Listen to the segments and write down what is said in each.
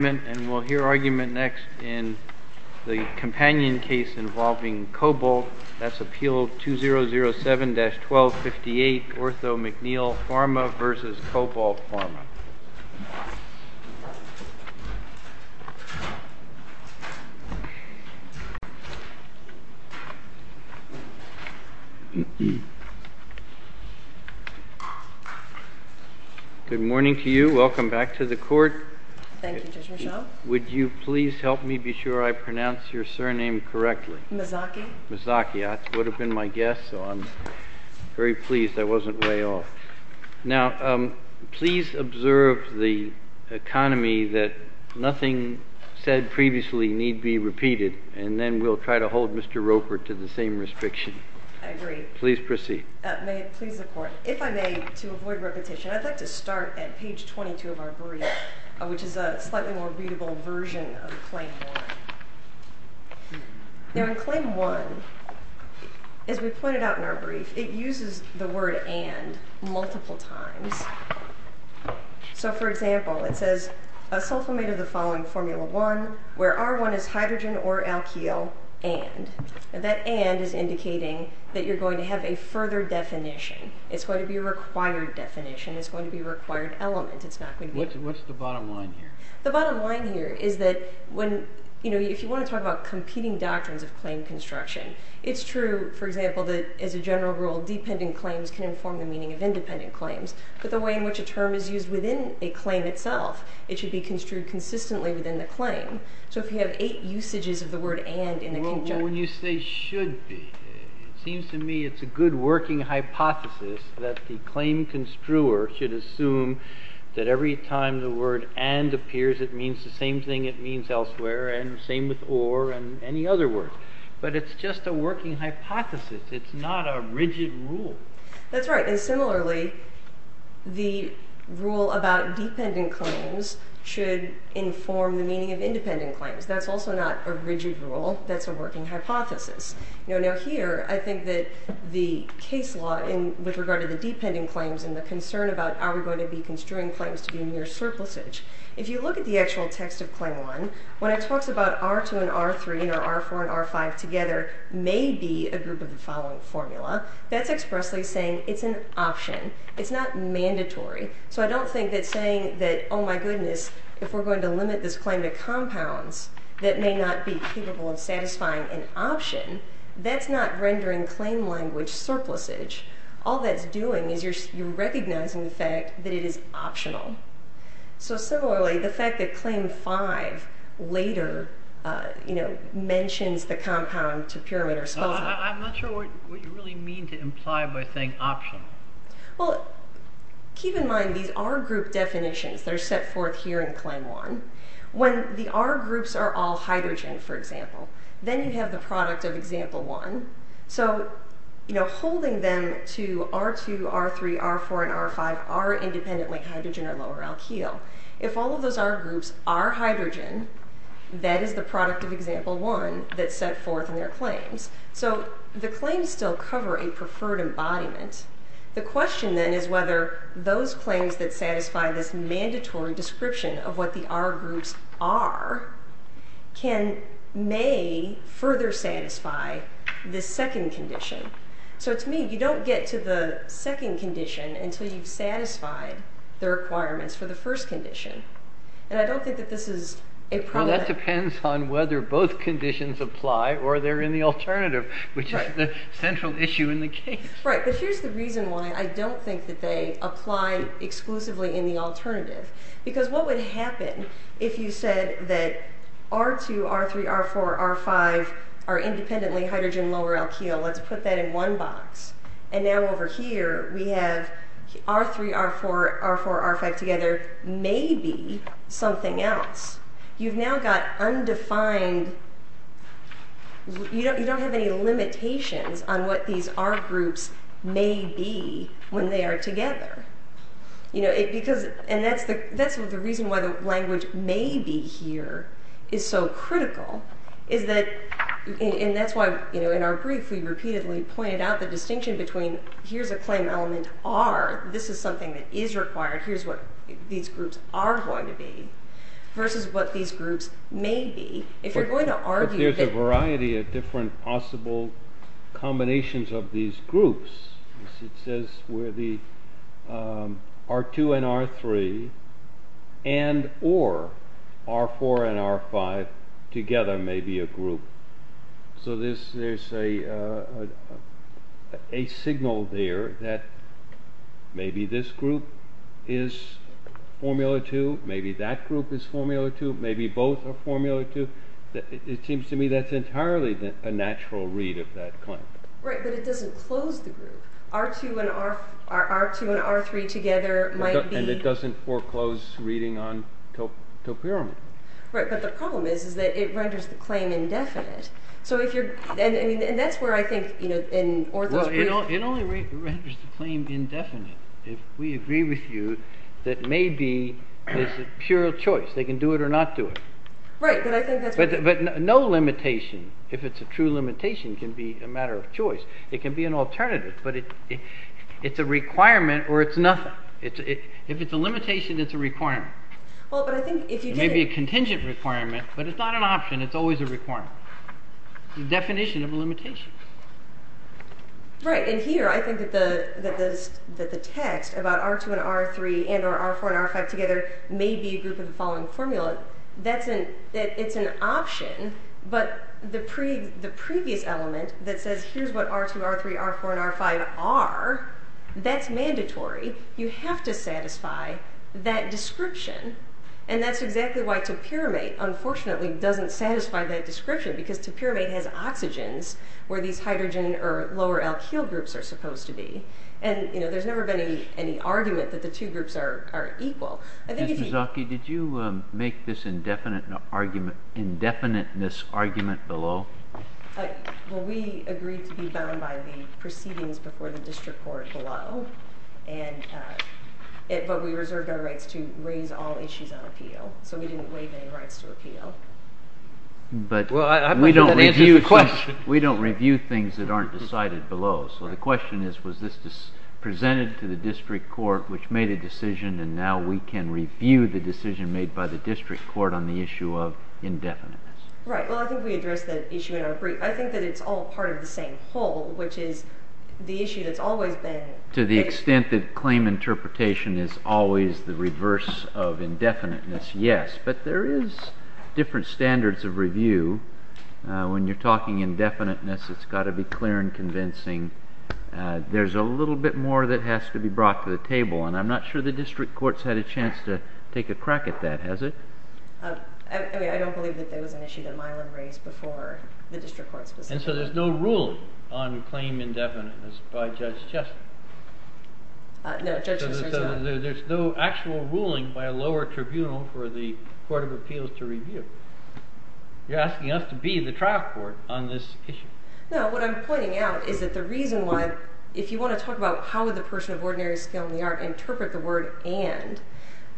Good morning, and we'll hear argument next in the companion case involving Cobalt. That's Appeal 2007-1258 Ortho-McNeil Pharma v. Cobalt Pharma. Good morning to you. Welcome back to the court. Thank you, Judge Michel. Would you please help me be sure I pronounce your surname correctly? Mazzocchi. Mazzocchi. That would have been my guess, so I'm very pleased I wasn't way off. Now, please observe the economy that nothing said previously need be repeated, and then we'll try to hold Mr. Roper to the same restriction. I agree. Please proceed. May it please the court, if I may, to avoid repetition, I'd like to start at page 22 of our brief, which is a slightly more readable version of Claim 1. Now, in Claim 1, as we pointed out in our brief, it uses the word and multiple times. So, for example, it says, a sulfamate of the following formula 1, where R1 is hydrogen or alkyl, and. And that and is indicating that you're going to have a further definition. It's going to be a required definition. It's going to be a required element. What's the bottom line here? The bottom line here is that when, you know, if you want to talk about competing doctrines of claim construction, it's true, for example, that as a general rule, dependent claims can inform the meaning of independent claims. But the way in which a term is used within a claim itself, it should be construed consistently within the claim. So if you have eight usages of the word and in a conjunction. Well, when you say should be, it seems to me it's a good working hypothesis that the claim construer should assume that every time the word and appears, it means the same thing it means elsewhere and the same with or and any other word. But it's just a working hypothesis. It's not a rigid rule. That's right. And similarly, the rule about dependent claims should inform the meaning of independent claims. That's also not a rigid rule. That's a working hypothesis. Now, here, I think that the case law in with regard to the dependent claims and the concern about are we going to be construing claims to be near surplus age. If you look at the actual text of claim one, when it talks about R2 and R3 and R4 and R5 together, maybe a group of the following formula, that's expressly saying it's an option. It's not mandatory. So I don't think that saying that, oh, my goodness, if we're going to limit this claim to compounds that may not be capable of satisfying an option, that's not rendering claim language surplus age. All that's doing is you're recognizing the fact that it is optional. So similarly, the fact that claim five later mentions the compound to pyramid or spot. I'm not sure what you really mean to imply by saying optional. Well, keep in mind these R group definitions that are set forth here in claim one. When the R groups are all hydrogen, for example, then you have the product of example one. So, you know, holding them to R2, R3, R4 and R5 are independently hydrogen or lower alkyl. If all of those R groups are hydrogen, that is the product of example one that's set forth in their claims. So the claims still cover a preferred embodiment. The question then is whether those claims that satisfy this mandatory description of what the R groups are can may further satisfy the second condition. So to me, you don't get to the second condition until you've satisfied the requirements for the first condition. And I don't think that this is a problem. That depends on whether both conditions apply or they're in the alternative, which is the central issue in the case. Right, but here's the reason why I don't think that they apply exclusively in the alternative. Because what would happen if you said that R2, R3, R4, R5 are independently hydrogen, lower alkyl? Let's put that in one box. And now over here we have R3, R4, R4, R5 together may be something else. You've now got undefined, you don't have any limitations on what these R groups may be when they are together. And that's the reason why the language may be here is so critical. And that's why in our brief we repeatedly pointed out the distinction between here's a claim element R, this is something that is required, here's what these groups are going to be, versus what these groups may be. If you're going to argue that... But there's a variety of different possible combinations of these groups. It says where the R2 and R3 and or R4 and R5 together may be a group. So there's a signal there that maybe this group is formula 2, maybe that group is formula 2, maybe both are formula 2. It seems to me that's entirely a natural read of that claim. Right, but it doesn't close the group. R2 and R3 together might be... And it doesn't foreclose reading on topiramid. Right, but the problem is that it renders the claim indefinite. It only renders the claim indefinite if we agree with you that maybe it's a pure choice, they can do it or not do it. Right, but I think that's... But no limitation, if it's a true limitation, can be a matter of choice. It can be an alternative, but it's a requirement or it's nothing. If it's a limitation, it's a requirement. It may be a contingent requirement, but it's not an option, it's always a requirement. It's a definition of a limitation. Right, and here I think that the text about R2 and R3 and or R4 and R5 together may be a group of the following formula. It's an option, but the previous element that says here's what R2, R3, R4 and R5 are, that's mandatory. You have to satisfy that description, and that's exactly why topiramate, unfortunately, doesn't satisfy that description because topiramate has oxygens where these hydrogen or lower alkyl groups are supposed to be. And there's never been any argument that the two groups are equal. Ms. Mazzocchi, did you make this indefiniteness argument below? Well, we agreed to be bound by the proceedings before the district court below, but we reserved our rights to raise all issues on appeal, so we didn't waive any rights to appeal. But we don't review things that aren't decided below, so the question is was this presented to the district court which made a decision and now we can review the decision made by the district court on the issue of indefiniteness. Right. Well, I think we addressed that issue in our brief. I think that it's all part of the same whole, which is the issue that's always been... To the extent that claim interpretation is always the reverse of indefiniteness, yes, but there is different standards of review. When you're talking indefiniteness, it's got to be clear and convincing. There's a little bit more that has to be brought to the table, and I'm not sure the district court's had a chance to take a crack at that, has it? I mean, I don't believe that there was an issue that Milam raised before the district court specifically. And so there's no ruling on claim indefiniteness by Judge Chester? No, Judge Chester's not... So there's no actual ruling by a lower tribunal for the Court of Appeals to review? You're asking us to be the trial court on this issue? No, what I'm pointing out is that the reason why, if you want to talk about how would the person of ordinary skill in the art interpret the word and,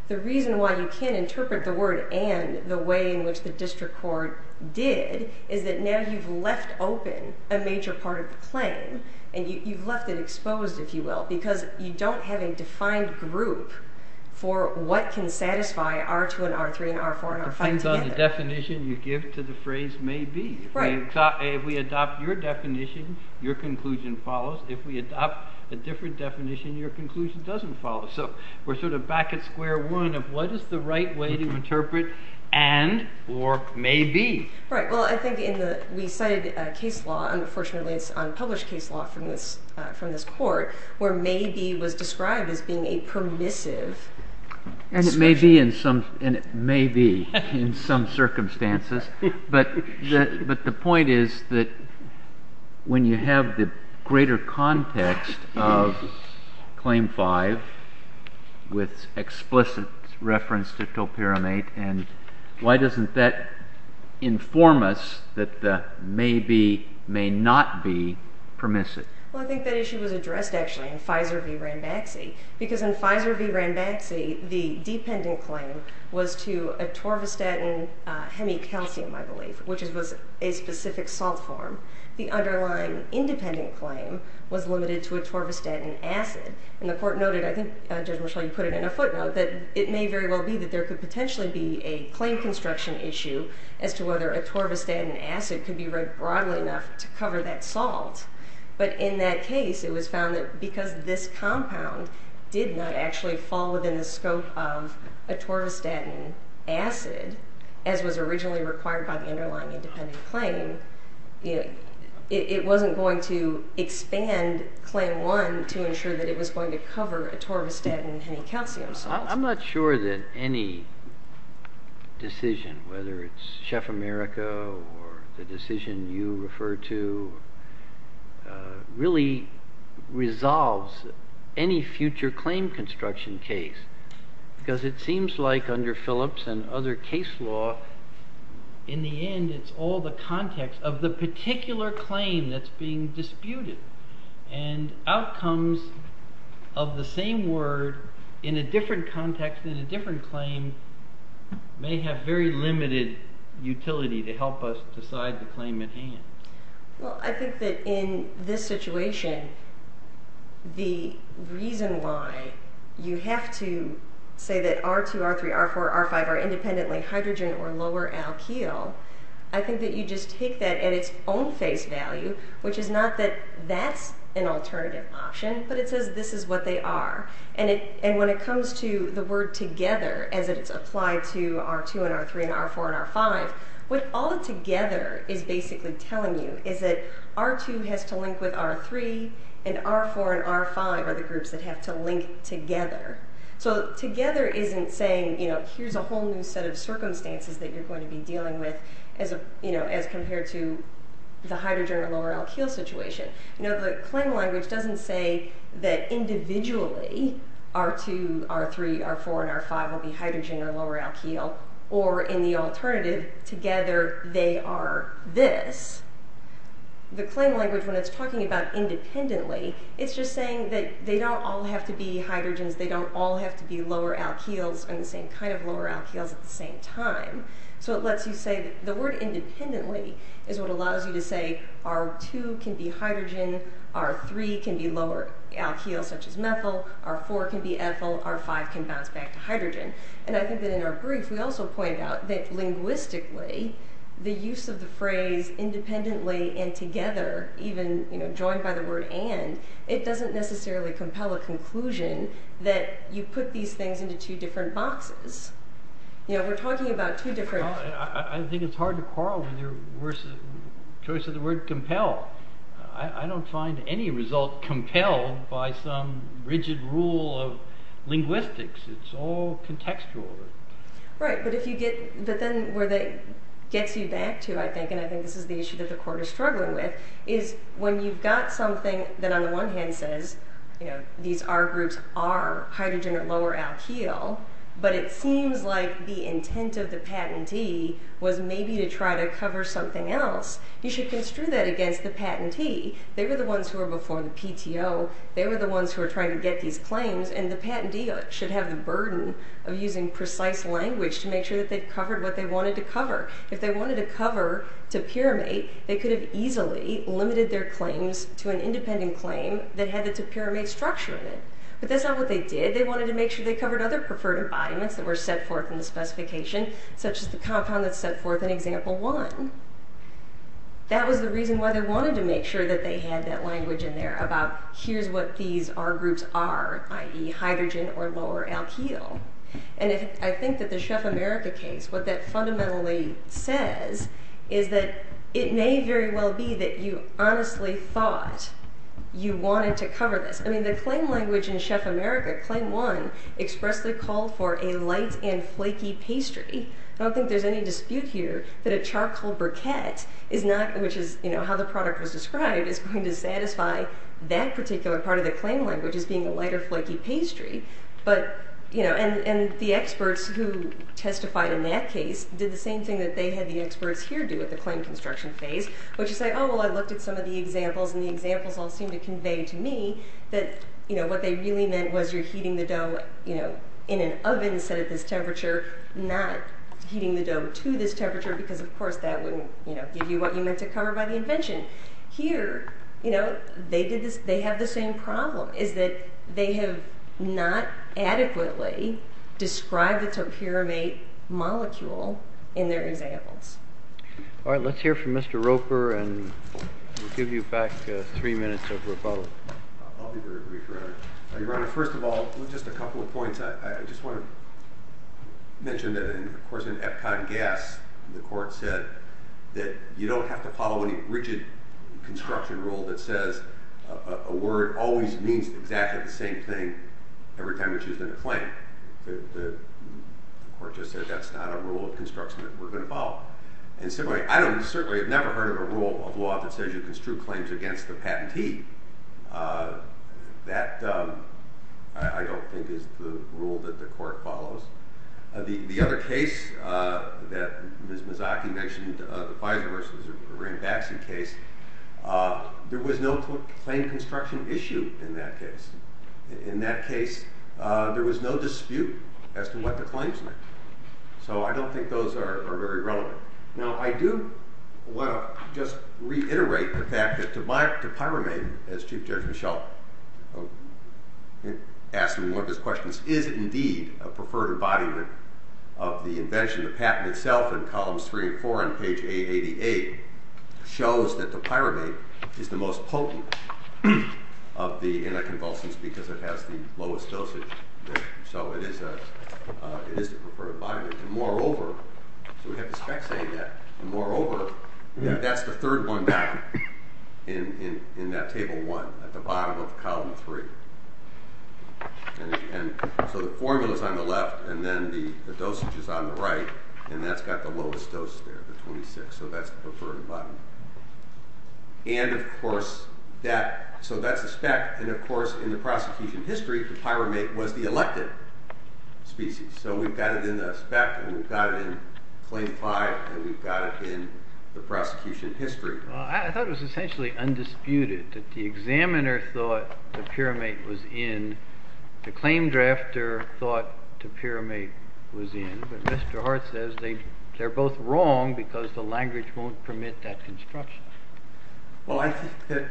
the reason why you can't interpret the word and the way in which the district court did is that now you've left open a major part of the claim, and you've left it exposed, if you will, because you don't have a defined group for what can satisfy R2 and R3 and R4 and R5 together. It depends on the definition you give to the phrase may be. If we adopt your definition, your conclusion follows. If we adopt a different definition, your conclusion doesn't follow. So we're sort of back at square one of what is the right way to interpret and or may be. Right, well, I think we cited a case law, unfortunately it's unpublished case law from this court, where may be was described as being a permissive description. And it may be in some circumstances, but the point is that when you have the greater context of Claim 5 with explicit reference to Topiramate, and why doesn't that inform us that the may be may not be permissive? Well, I think that issue was addressed actually in Pfizer v. Ranbaxy, because in Pfizer v. Ranbaxy, the dependent claim was to atorvastatin hemicalcium, I believe, which was a specific salt form. The underlying independent claim was limited to atorvastatin acid. And the court noted, I think Judge Marshall, you put it in a footnote, that it may very well be that there could potentially be a claim construction issue as to whether atorvastatin acid could be read broadly enough to cover that salt. But in that case, it was found that because this compound did not actually fall within the scope of atorvastatin acid, as was originally required by the underlying independent claim, it wasn't going to expand Claim 1 to ensure that it was going to cover atorvastatin hemicalcium salts. I'm not sure that any decision, whether it's Chef America or the decision you refer to, really resolves any future claim construction case. Because it seems like under Phillips and other case law, in the end, it's all the context of the particular claim that's being disputed. And outcomes of the same word in a different context, in a different claim, may have very limited utility to help us decide the claim at hand. Well, I think that in this situation, the reason why you have to say that R2, R3, R4, R5 are independently hydrogen or lower alkyl, I think that you just take that at its own face value, which is not that that's an alternative option, but it says this is what they are. And when it comes to the word together, as it's applied to R2 and R3 and R4 and R5, what all together is basically telling you is that R2 has to link with R3, and R4 and R5 are the groups that have to link together. So together isn't saying here's a whole new set of circumstances that you're going to be dealing with as compared to the hydrogen or lower alkyl situation. Now, the claim language doesn't say that individually R2, R3, R4, and R5 will be hydrogen or lower alkyl, or in the alternative, together they are this. The claim language, when it's talking about independently, it's just saying that they don't all have to be hydrogens, they don't all have to be lower alkyls and the same kind of lower alkyls at the same time. So it lets you say that the word independently is what allows you to say R2 can be hydrogen, R3 can be lower alkyls such as methyl, R4 can be ethyl, R5 can bounce back to hydrogen. And I think that in our brief we also point out that linguistically the use of the phrase independently and together, even joined by the word and, it doesn't necessarily compel a conclusion that you put these things into two different boxes. We're talking about two different... I think it's hard to quarrel with your choice of the word compel. I don't find any result compelled by some rigid rule of linguistics. It's all contextual. Right, but then where that gets you back to, I think, and I think this is the issue that the court is struggling with, is when you've got something that on the one hand says these R groups are hydrogen or lower alkyl, but it seems like the intent of the patentee was maybe to try to cover something else, you should construe that against the patentee. They were the ones who were before the PTO. They were the ones who were trying to get these claims, and the patentee should have the burden of using precise language to make sure that they've covered what they wanted to cover. If they wanted to cover topiramate, they could have easily limited their claims to an independent claim that had the topiramate structure in it. But that's not what they did. They wanted to make sure they covered other preferred embodiments that were set forth in the specification, such as the compound that's set forth in Example 1. That was the reason why they wanted to make sure that they had that language in there about here's what these R groups are, i.e. hydrogen or lower alkyl. And I think that the Chef America case, what that fundamentally says is that it may very well be that you honestly thought you wanted to cover this. The claim language in Chef America, Claim 1, expressly called for a light and flaky pastry. I don't think there's any dispute here that a charcoal briquette, which is how the product was described, is going to satisfy that particular part of the claim language as being a light or flaky pastry. And the experts who testified in that case did the same thing that they had the experts here do at the claim construction phase, which is say, oh, well, I looked at some of the examples, and the examples all seemed to convey to me that what they really meant was you're heating the dough in an oven set at this temperature, not heating the dough to this temperature, because of course that wouldn't give you what you meant to cover by the invention. Here, they have the same problem, is that they have not adequately described the terpyramid molecule in their examples. All right, let's hear from Mr. Roper, and we'll give you back three minutes of rebuttal. I'll be very brief, Your Honor. Your Honor, first of all, just a couple of points. I just want to mention that, of course, in Epcot Gas, the court said that you don't have to follow any rigid construction rule that says a word always means exactly the same thing every time it's used in a claim. The court just said that's not a rule of construction that we're going to follow. I certainly have never heard of a rule of law that says you construe claims against the patentee. That, I don't think, is the rule that the court follows. The other case that Ms. Mazzocchi mentioned, the Pfizer versus Ranbaxy case, there was no claim construction issue in that case. In that case, there was no dispute as to what the claims meant. So I don't think those are very relevant. Now, I do want to just reiterate the fact that the Pyramid, as Chief Judge Michel asked in one of his questions, is indeed a preferred embodiment of the invention. The patent itself in columns 3 and 4 on page 888 shows that the Pyramid is the most potent of the anticonvulsants because it has the lowest dosage. So it is the preferred embodiment. And moreover, so we have the spec saying that, and moreover, that's the third one down in that table 1, at the bottom of column 3. And so the formula's on the left, and then the dosage is on the right, and that's got the lowest dose there, the 26. So that's the preferred embodiment. And, of course, so that's the spec. And, of course, in the prosecution history, the Pyramid was the elected species. So we've got it in the spec, and we've got it in claim 5, and we've got it in the prosecution history. Well, I thought it was essentially undisputed that the examiner thought the Pyramid was in, the claim drafter thought the Pyramid was in, but Mr. Hart says they're both wrong because the language won't permit that construction. Well, I think that...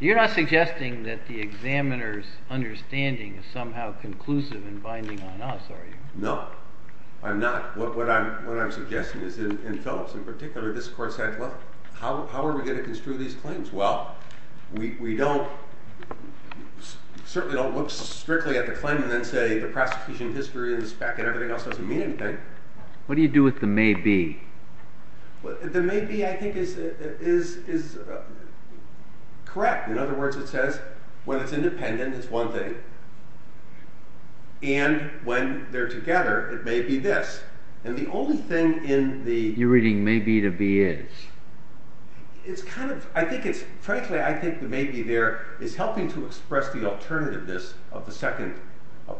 You're not suggesting that the examiner's understanding is somehow conclusive and binding on us, are you? No, I'm not. What I'm suggesting is, in Phillips in particular, this court said, well, how are we going to construe these claims? Well, we don't... certainly don't look strictly at the claim and then say the prosecution history and the spec and everything else doesn't mean anything. What do you do with the may be? The may be, I think, is correct. In other words, it says, when it's independent, it's one thing, and when they're together, it may be this. And the only thing in the... You're reading may be to be is. It's kind of... I think it's... Frankly, I think the may be there of the second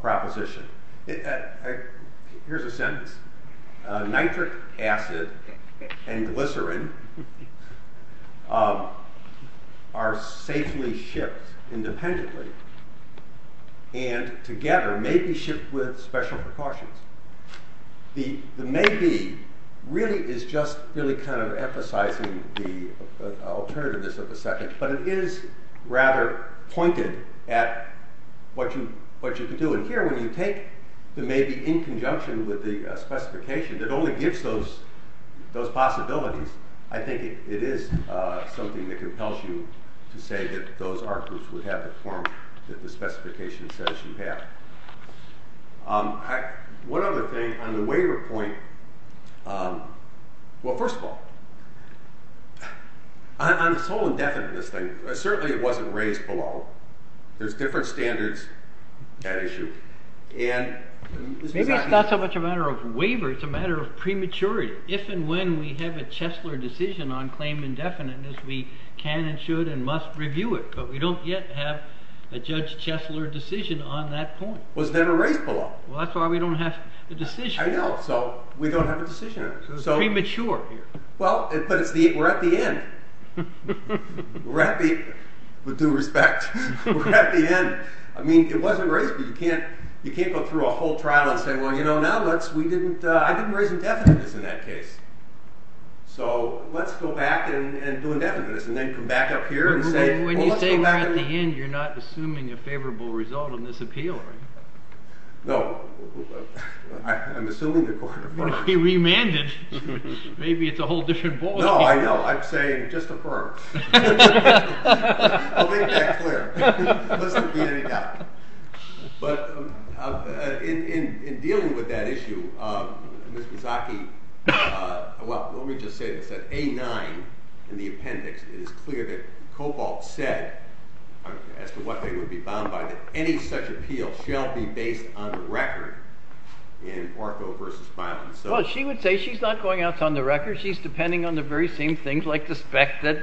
proposition. Here's a sentence. Nitric acid and glycerin are safely shipped independently and together may be shipped with special precautions. The may be really is just really kind of emphasizing the alternativeness of the second, but it is rather pointed at what you can do. And here, when you take the may be in conjunction with the specification that only gives those possibilities, I think it is something that compels you to say that those arguments would have the form that the specification says you have. One other thing, on the waiver point... Well, first of all, on this whole indefiniteness thing, certainly it wasn't raised below. There's different standards at issue. Maybe it's not so much a matter of waiver, it's a matter of prematurity. If and when we have a Chesler decision on claim indefiniteness, we can and should and must review it, but we don't yet have a Judge Chesler decision on that point. It was never raised below. Well, that's why we don't have a decision. I know, so we don't have a decision. So it's premature here. Well, but we're at the end. With due respect, we're at the end. I mean, it wasn't raised, but you can't go through a whole trial and say, well, you know, I didn't raise indefiniteness in that case. So let's go back and do indefiniteness and then come back up here and say... When you say we're at the end, you're not assuming a favorable result on this appeal, are you? No. I'm assuming they're going to affirm. Well, if we remand it, maybe it's a whole different ballgame. No, I know. I'm saying just affirm. I'll make that clear. Unless there be any doubt. But in dealing with that issue, Ms. Mizaki... Well, let me just say this. At A-9 in the appendix, it is clear that Cobalt said, as to what they would be bound by, that any such appeal shall be based on the record in ortho versus violence. Well, she would say she's not going out on the record. She's depending on the very same things, like the spec that...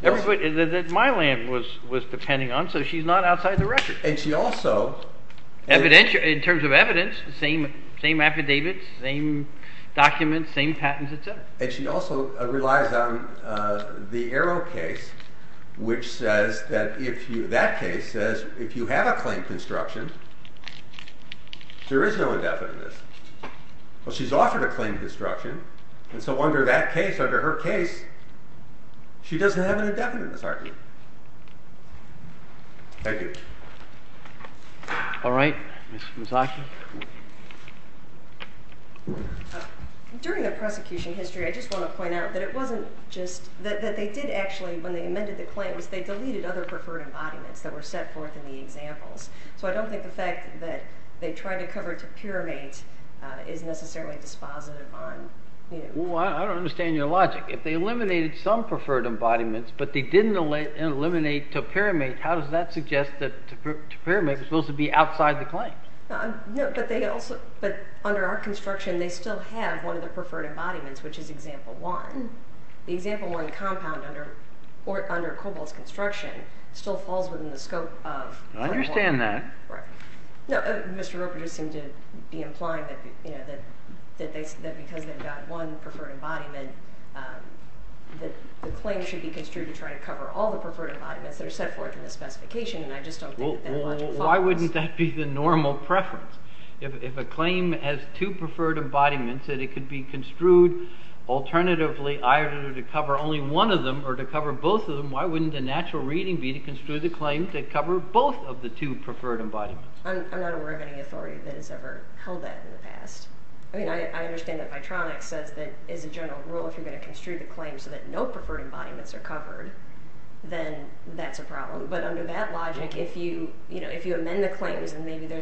that my land was depending on, so she's not outside the record. And she also... In terms of evidence, same affidavits, same documents, same patents, etc. And she also relies on the Arrow case, which says that if you... that case says if you have a claim construction, there is no indefiniteness. Well, she's offered a claim construction, and so under that case, under her case, she doesn't have an indefiniteness argument. Thank you. All right. Ms. Mazzocchi. During the prosecution history, I just want to point out that it wasn't just... that they did actually, when they amended the claim, was they deleted other preferred embodiments that were set forth in the examples. So I don't think the fact that they tried to cover it to Pyramate is necessarily dispositive on... Well, I don't understand your logic. If they eliminated some preferred embodiments, but they didn't eliminate to Pyramate, how does that suggest that to Pyramate is supposed to be outside the claim? No, but they also... But under our construction, they still have one of the preferred embodiments, which is example one. The example one compound under Kobol's construction still falls within the scope of... I understand that. Right. No, Mr. Roper just seemed to be implying that because they've got one preferred embodiment, that the claim should be construed to try to cover all the preferred embodiments that are set forth in the specification, and I just don't think that logic follows. Well, why wouldn't that be the normal preference? If a claim has two preferred embodiments that it could be construed alternatively either to cover only one of them or to cover both of them, why wouldn't the natural reading be to construe the claim to cover both of the two preferred embodiments? I'm not aware of any authority that has ever held that in the past. I mean, I understand that Vitronics says that it is a general rule if you're going to construe the claim so that no preferred embodiments are covered, then that's a problem. But under that logic, then maybe there's some...